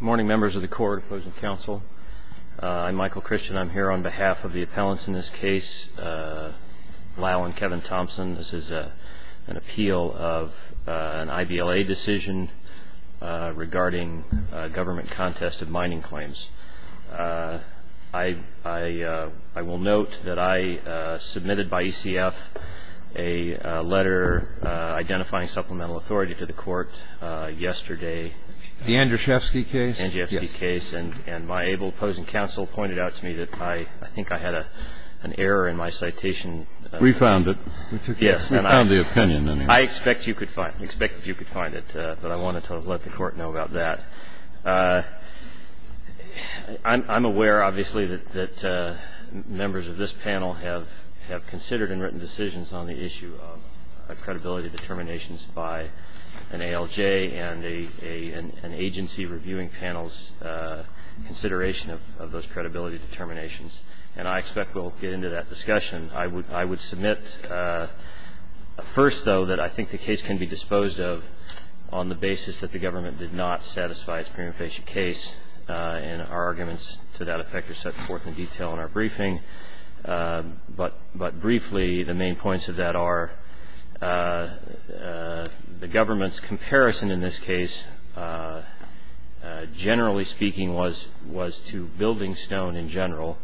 Morning Members of the Court, Opposing Counsel. I'm Michael Christian. I'm here on behalf of the appellants in this case, Lyle and Kevin Thompson. This is an appeal of an I.B.L.A. decision regarding government contested mining claims. I will note that I submitted by E.C.F. a letter identifying supplemental authority to the Court yesterday. The Andrashevsky case? The Andrashevsky case. And my able opposing counsel pointed out to me that I think I had an error in my citation. We found it. Yes. We found the opinion. I expect you could find it, but I wanted to let the Court know about that. I'm aware, obviously, that members of this panel have considered and written decisions on the issue of credibility determinations by an ALJ and an agency reviewing panel's consideration of those credibility determinations. And I expect we'll get into that discussion. I would submit, first, though, that I think the case can be disposed of on the basis that the government did not satisfy its preemptation case, and our arguments to that effect are set forth in detail in our briefing. But briefly, the main points of that are the government's comparison in this case, generally speaking, was to building stone in general,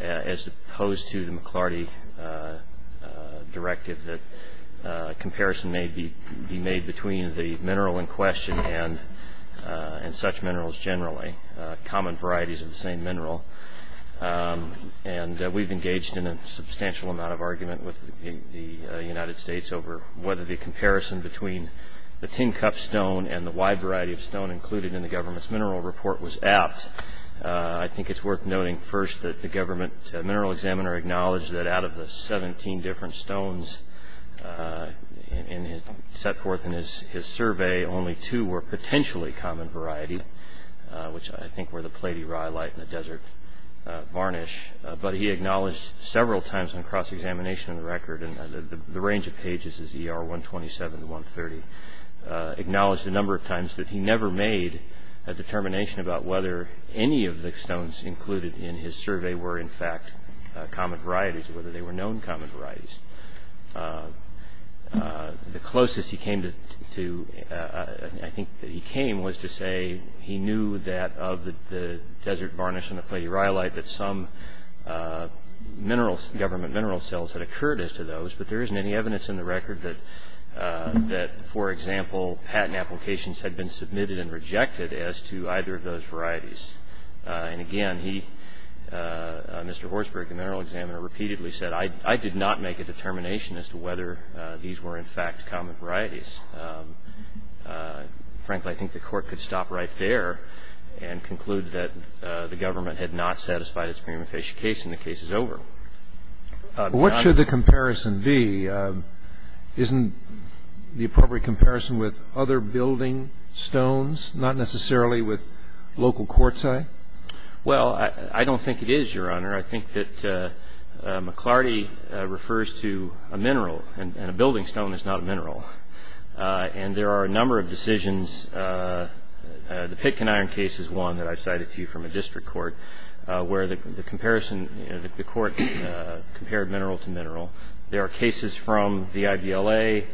as opposed to the McLarty directive that a comparison may be made between the mineral in question and such minerals generally, common varieties of the same mineral. And we've engaged in a substantial amount of argument with the United States over whether the comparison between the tin cup stone and the wide variety of stone included in the government's mineral report was apt. I think it's worth noting, first, that the government mineral examiner acknowledged that out of the 17 different stones set forth in his survey, only two were potentially common variety, which I think were the platyrylite and the desert varnish, but he acknowledged several times on cross-examination of the record, the range of pages is ER 127 to 130, acknowledged a number of times that he never made a determination about whether any of the stones included in his survey were, in fact, common varieties, whether they were He knew that of the desert varnish and the platyrylite, that some government mineral cells had occurred as to those, but there isn't any evidence in the record that, for example, patent applications had been submitted and rejected as to either of those varieties. And again, he, Mr. Horsberg, the mineral examiner, repeatedly said, I did not make a determination as to whether these were, in fact, common varieties. Frankly, I think the court could stop right there and conclude that the government had not satisfied its prima facie case and the case is over. But what should the comparison be? Isn't the appropriate comparison with other building stones, not necessarily with local quartzite? Well, I don't think it is, Your Honor. I think that McLarty refers to a mineral, and a building stone is not a mineral. And there are a number of decisions. The Pitkin Iron case is one that I've cited to you from a district court, where the court compared mineral to mineral. There are cases from the IBLA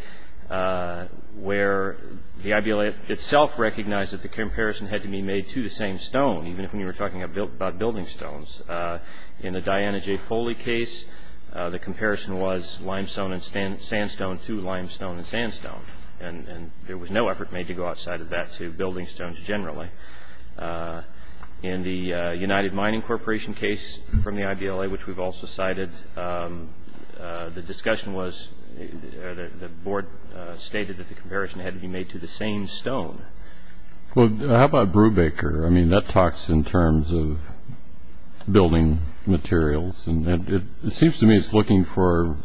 where the IBLA itself recognized that the comparison had to be made to the same stone, even if we were talking about building stones. In the Diana J. Foley case, the comparison was limestone and sandstone to limestone and sandstone. And there was no effort made to go outside of that to building stones generally. In the United Mining Corporation case from the IBLA, which we've also cited, the discussion was, the board stated that the comparison had to be made to the same stone. Well, how about Brubaker? I mean, that talks in terms of building materials. And it seems to me it's looking for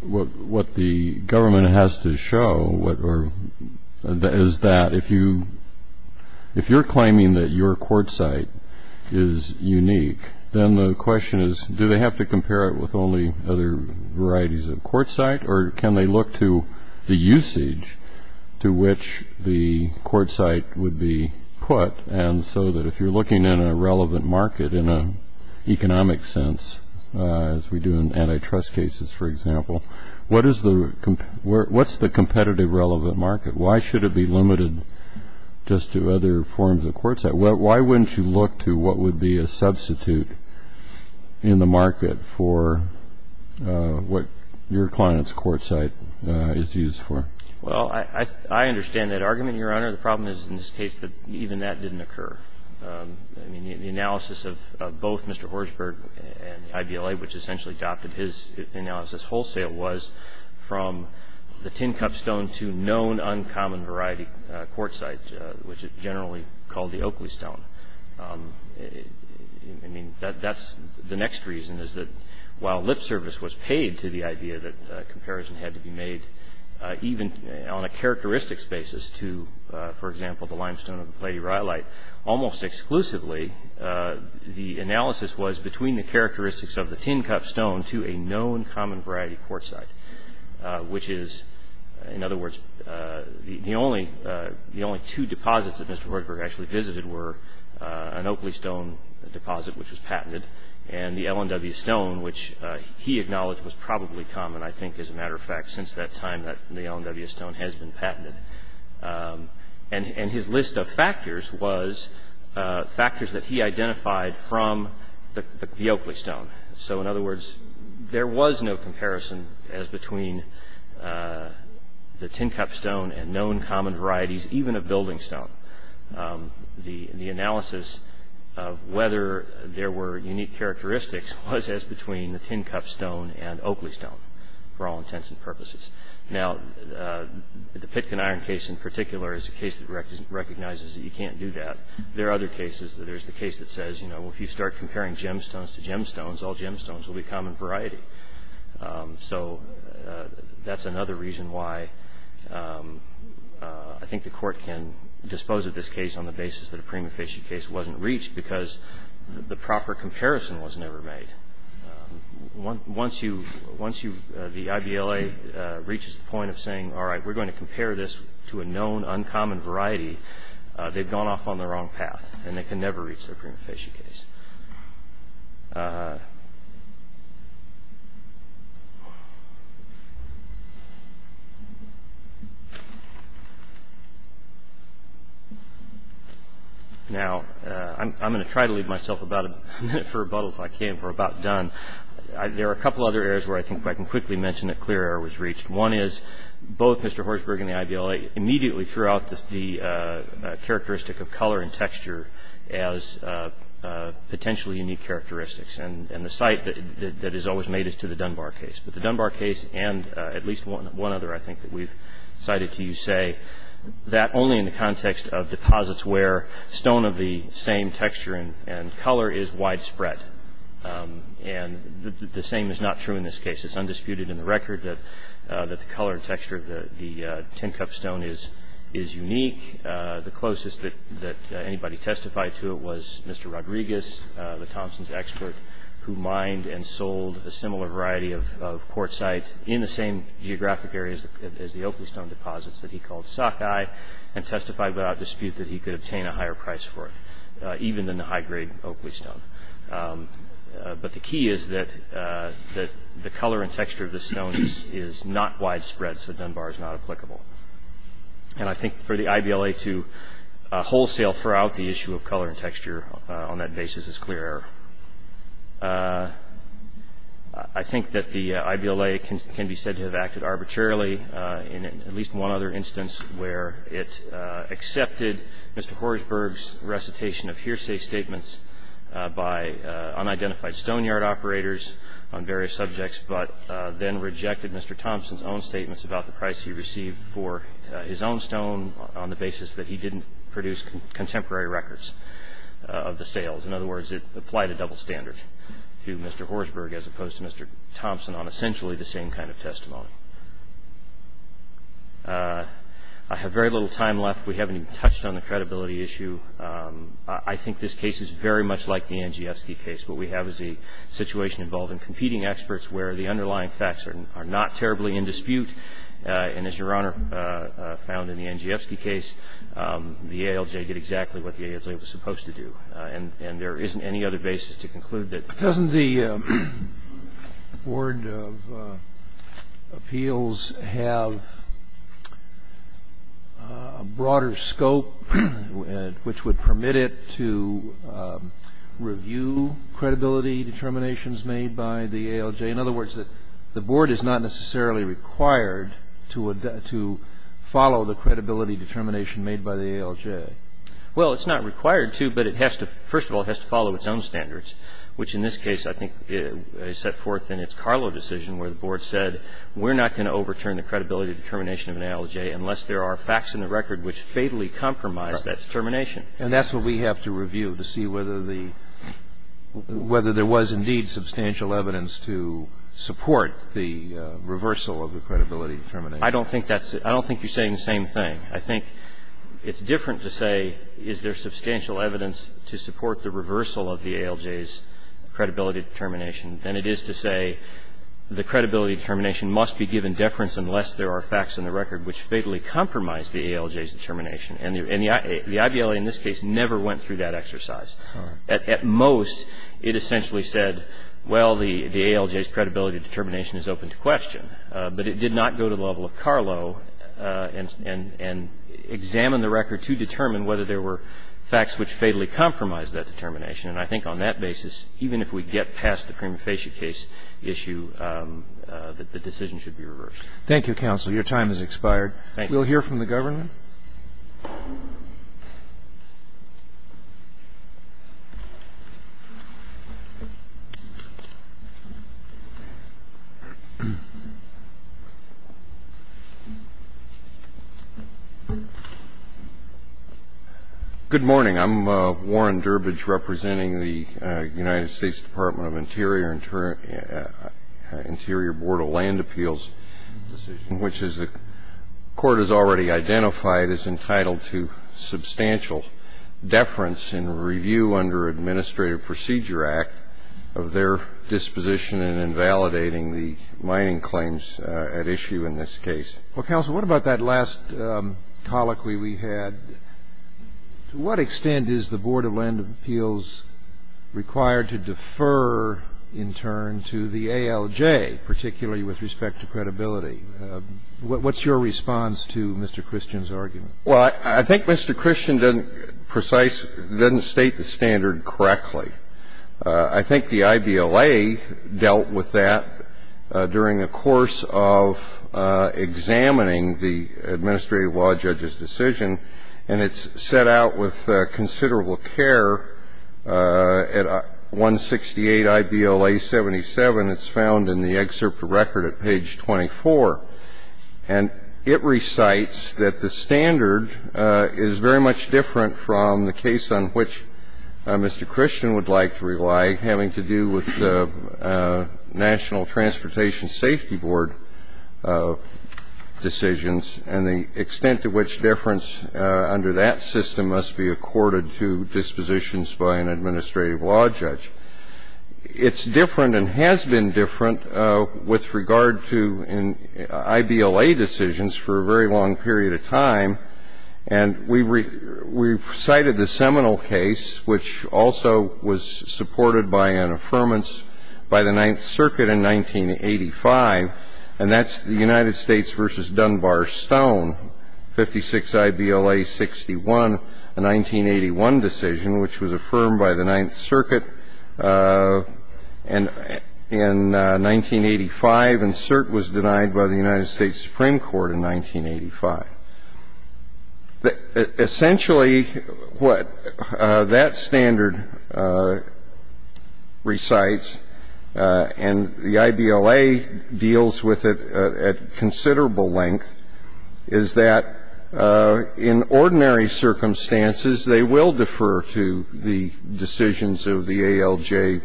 what the government has to show, or is that if you're claiming that your quartzite is unique, then the question is, do they have to compare it with only other varieties of quartzite? Or can they look to the usage to which the quartzite would be put? And so that if you're looking in a relevant market in an economic sense, as we do in antitrust cases, for example, what's the competitive relevant market? Why should it be limited just to other forms of quartzite? Why wouldn't you look to what would be a substitute in the market for what your client's quartzite is used for? Well, I understand that argument, Your Honor. The problem is, in this case, that even that didn't occur. I mean, the analysis of both Mr. Horsberg and the IBLA, which essentially adopted his analysis wholesale, was from the tin cup stone to known uncommon variety quartzite, which is generally called the Oakley stone. I mean, that's the next reason, is that while lip service was paid to the idea that comparison had to be made even on a characteristics basis to, for example, the limestone of the Pleiadi Rhyolite, almost exclusively, the analysis was between the characteristics of the tin cup stone to a known common variety quartzite, which is, in other words, the only two deposits that Mr. Horsberg actually visited were an Oakley stone deposit, which was patented, and the Ellen W. Stone, which he acknowledged was probably common, I think, as a matter of fact, since that time that the Ellen W. Stone has been patented. And his list of factors was factors that he identified from the Oakley stone. So, in other words, there was no comparison as between the tin cup stone and known common varieties, even of building stone. The analysis of whether there were unique characteristics was as between the tin cup stone and Oakley stone, for all intents and purposes. Now, the Pitkin Iron case, in particular, is a case that recognizes that you can't do that. There are other cases that there's the case that says, if you start comparing gemstones to gemstones, all gemstones will be common variety. So, that's another reason why I think the court can dispose of this case on the basis that a prima facie case wasn't reached because the proper comparison was never made. Once the IBLA reaches the point of saying, all right, we're going to compare this to a known uncommon variety, they've gone off on the wrong path and they can never reach their prima facie case. Now, I'm going to try to leave myself about a minute for rebuttal if I can. We're about done. There are a couple other areas where I think I can quickly mention that clear error was reached. One is, both Mr. Horsberg and the IBLA immediately threw out the characteristic of color and texture as potentially unique characteristics. And the cite that is always made is to the Dunbar case. But the Dunbar case and at least one other, I think, that we've cited to you say, that only in the context of deposits where stone of the same texture and color is widespread. And the same is not true in this case. It's undisputed in the record that the color and texture of the 10-cup stone is unique. The closest that anybody testified to it was Mr. Rodriguez, the Thomson's expert, who mined and sold a similar variety of quartzite in the same geographic areas as the Oakley stone deposits that he called sockeye and testified without dispute that he could obtain a higher price for it, even than the high-grade Oakley stone. But the key is that the color and texture of the stone is not widespread, so Dunbar is not applicable. And I think for the IBLA to wholesale throughout the issue of color and texture on that basis is clear error. I think that the IBLA can be said to have acted arbitrarily in at least one other instance where it accepted Mr. Horsberg's recitation of hearsay statements by unidentified stonyard operators on various subjects, but then rejected Mr. Thomson's own statements about the price he received for his own stone on the basis that he didn't produce contemporary records of the sales. In other words, it applied a double standard to Mr. Horsberg as opposed to Mr. Thomson on essentially the same kind of testimony. I have very little time left. We haven't even touched on the credibility issue. I think this case is very much like the Andrzejewski case. What we have is a situation involving competing experts where the underlying facts are not terribly in dispute. And as Your Honor found in the Andrzejewski case, the ALJ did exactly what the ALJ was supposed to do. And there isn't any other basis to conclude that. Doesn't the Board of Appeals have a broader scope which would permit it to review credibility determinations made by the ALJ? In other words, the Board is not necessarily required to follow the credibility determination made by the ALJ. Well, it's not required to, but first of all, it has to follow its own standards, which in this case I think is set forth in its Carlo decision where the Board said, we're not going to overturn the credibility determination of an ALJ unless there are facts in the record which fatally compromise that determination. And that's what we have to review to see whether there was indeed substantial evidence to support the reversal of the credibility determination. I don't think you're saying the same thing. I think it's different to say is there substantial evidence to support the reversal of the ALJ's credibility determination than it is to say the credibility determination must be given deference unless there are facts in the record which fatally compromise the ALJ's determination. And the IBLA in this case never went through that exercise. At most, it essentially said, well, the ALJ's credibility determination is open to question. But it did not go to the level of Carlo and examine the record to determine whether there were facts which fatally compromise that determination. And I think on that basis, even if we get past the prima facie case issue, the decision should be reversed. Thank you, counsel. Your time has expired. Thank you. We'll hear from the government. Good morning. I'm Warren Durbidge representing the United States Department of Interior, Interior Board of Land Appeals, which is the court has already identified as entitled to substantial deference in review under Administrative Procedure Act of their disposition in invalidating the mining claims at issue in this case. Well, counsel, what about that last colloquy we had? To what extent is the Board of Land Appeals required to defer in turn to the ALJ, particularly with respect to credibility? What's your response to Mr. Christian's argument? Well, I think Mr. Christian doesn't precise, doesn't state the standard correctly. I think the IBLA dealt with that during the course of examining the administrative law judge's decision, and it's set out with considerable care at 168 IBLA 77. It's found in the excerpt of record at page 24. And it recites that the standard is very much different from the case on which Mr. Christian would like to rely, having to do with the National Transportation Safety Board decisions, and the extent to which deference under that system must be accorded to dispositions by an administrative law judge. It's different and has been different with regard to IBLA decisions for a very long period of time. And we've cited the Seminole case, which also was supported by an affirmance by the Ninth Circuit in 1985, and that's the United States v. Dunbar-Stone, 56 IBLA 61, a 1981 decision, which was affirmed by the Ninth Circuit in 1985. And cert was denied by the United States Supreme Court in 1985. Essentially, what that standard recites, and the IBLA deals with it at considerable length, is that in ordinary circumstances, they will defer to the decisions of the ALJ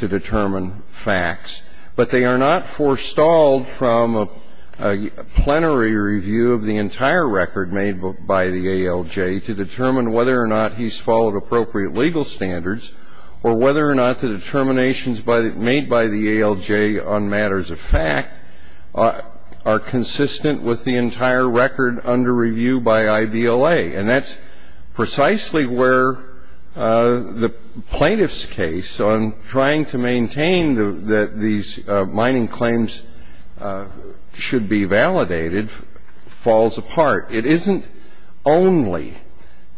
to determine facts, but they are not forestalled from a plenary review of the entire record made by the ALJ to determine whether or not he's followed appropriate legal standards, or whether or not the determinations made by the ALJ on matters of fact are consistent with the entire record under review by IBLA. And that's precisely where the plaintiff's case on trying to maintain that these falls apart. It isn't only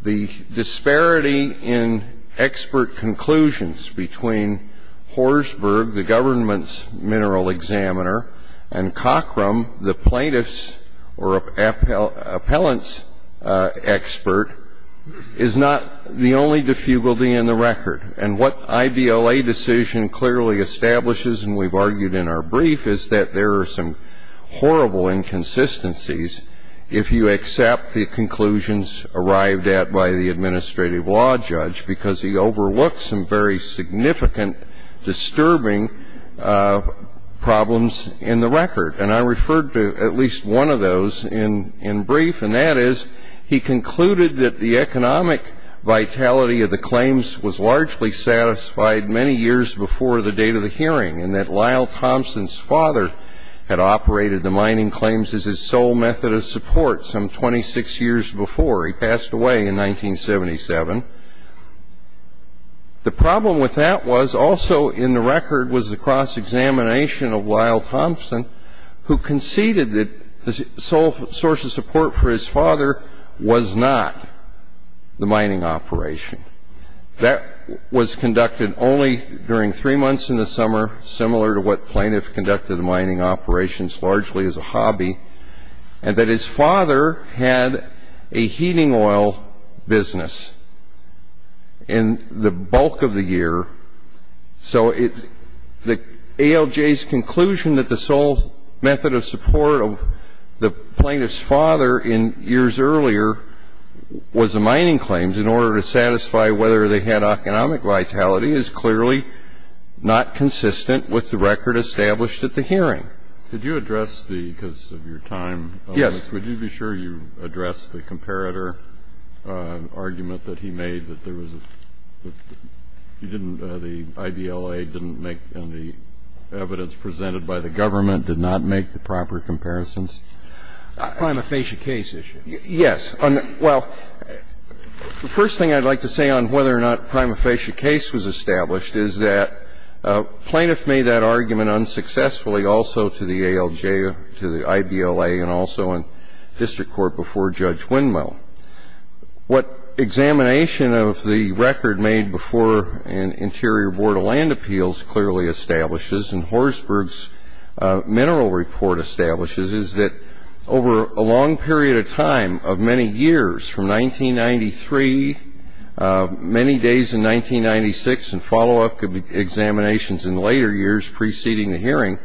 the disparity in expert conclusions between Horsberg, the government's mineral examiner, and Cochram, the plaintiff's or appellant's expert, is not the only diffugality in the record. And what IBLA decision clearly establishes, and we've argued in our brief, is that there are some horrible inconsistencies if you accept the conclusions arrived at by the administrative law judge, because he overlooks some very significant, disturbing problems in the record. And I referred to at least one of those in brief, and that is he concluded that the economic vitality of the claims was largely satisfied many years before the date of the hearing, and that Lyle Thompson's father had operated the mining claims as his sole method of support some 26 years before he passed away in 1977. The problem with that was also in the record was the cross-examination of Lyle Thompson, who conceded that the sole source of support for his father was not the mining operation. That was conducted only during three months in the summer, similar to what plaintiff conducted mining operations largely as a hobby, and that his father had a heating oil business in the bulk of the year. So ALJ's conclusion that the sole method of support of the plaintiff's father in years earlier was the mining claims in order to satisfy whether they had economic vitality is clearly not consistent with the record established at the hearing. Did you address the, because of your time limits, would you be sure you addressed the comparator argument that he made, that there was a, you didn't, the IBLA didn't make, and the evidence presented by the government did not make the proper comparisons? Prime aphasia case issue. Yes. Well, the first thing I'd like to say on whether or not prime aphasia case was established is that plaintiff made that argument unsuccessfully also to the ALJ, to the IBLA, and also in district court before Judge Windmill. What examination of the record made before an Interior Board of Land Appeals clearly establishes and Horsberg's mineral report establishes is that over a long period of time of many years, from 1993, many days in 1996, and follow-up examinations in later years preceding the hearing,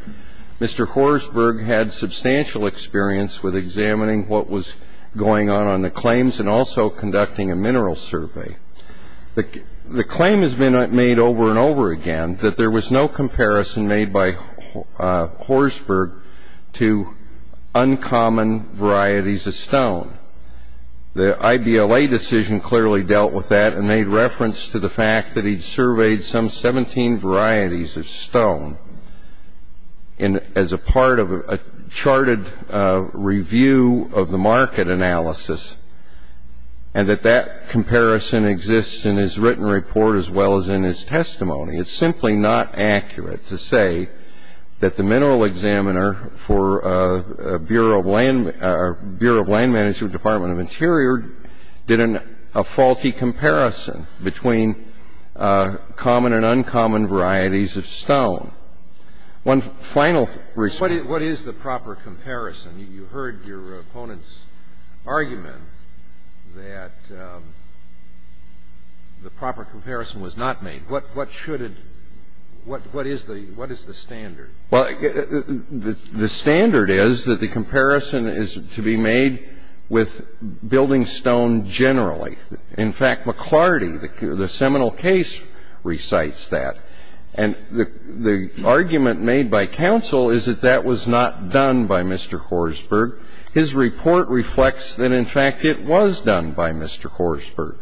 Mr. Horsberg had substantial experience with examining what was going on on the claims and also conducting a mineral survey. The claim has been made over and over again that there was no comparison made by Horsberg to uncommon varieties of stone. The IBLA decision clearly dealt with that and made reference to the fact that he'd surveyed some 17 varieties of stone as a part of a charted review of the market analysis and that that comparison exists in his written report as well as in his testimony. It's simply not accurate to say that the mineral examiner for Bureau of Land Management, Department of Interior, did a faulty comparison between common and uncommon varieties of stone. One final response. What is the proper comparison? You heard your opponent's argument that the proper comparison was not made. What should it – what is the standard? Well, the standard is that the comparison is to be made with building stone generally. In fact, McLarty, the seminal case, recites that. And the argument made by counsel is that that was not done by Mr. Horsberg. His report reflects that, in fact, it was done by Mr. Horsberg.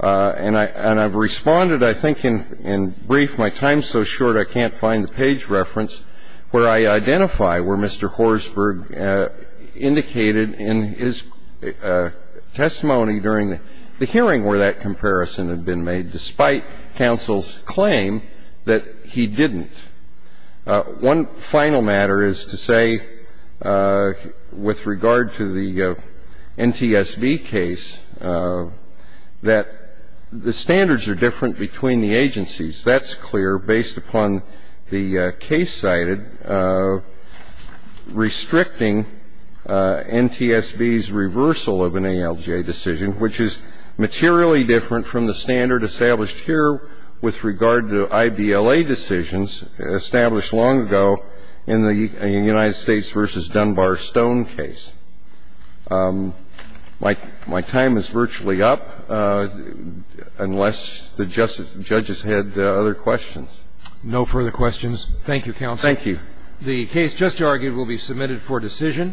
And I've responded, I think, in brief. My time's so short I can't find the page reference where I identify where Mr. Horsberg indicated in his testimony during the hearing where that comparison had been made, despite counsel's claim that he didn't. One final matter is to say with regard to the NTSB case that the standards are different between the agencies. That's clear based upon the case cited restricting NTSB's reversal of an ALJ decision, which is materially different from the standard established here with regard to IBLA decisions established long ago in the United States v. Dunbar Stone case. My time is virtually up, unless the judges had other questions. No further questions. Thank you, counsel. Thank you. The case just argued will be submitted for decision.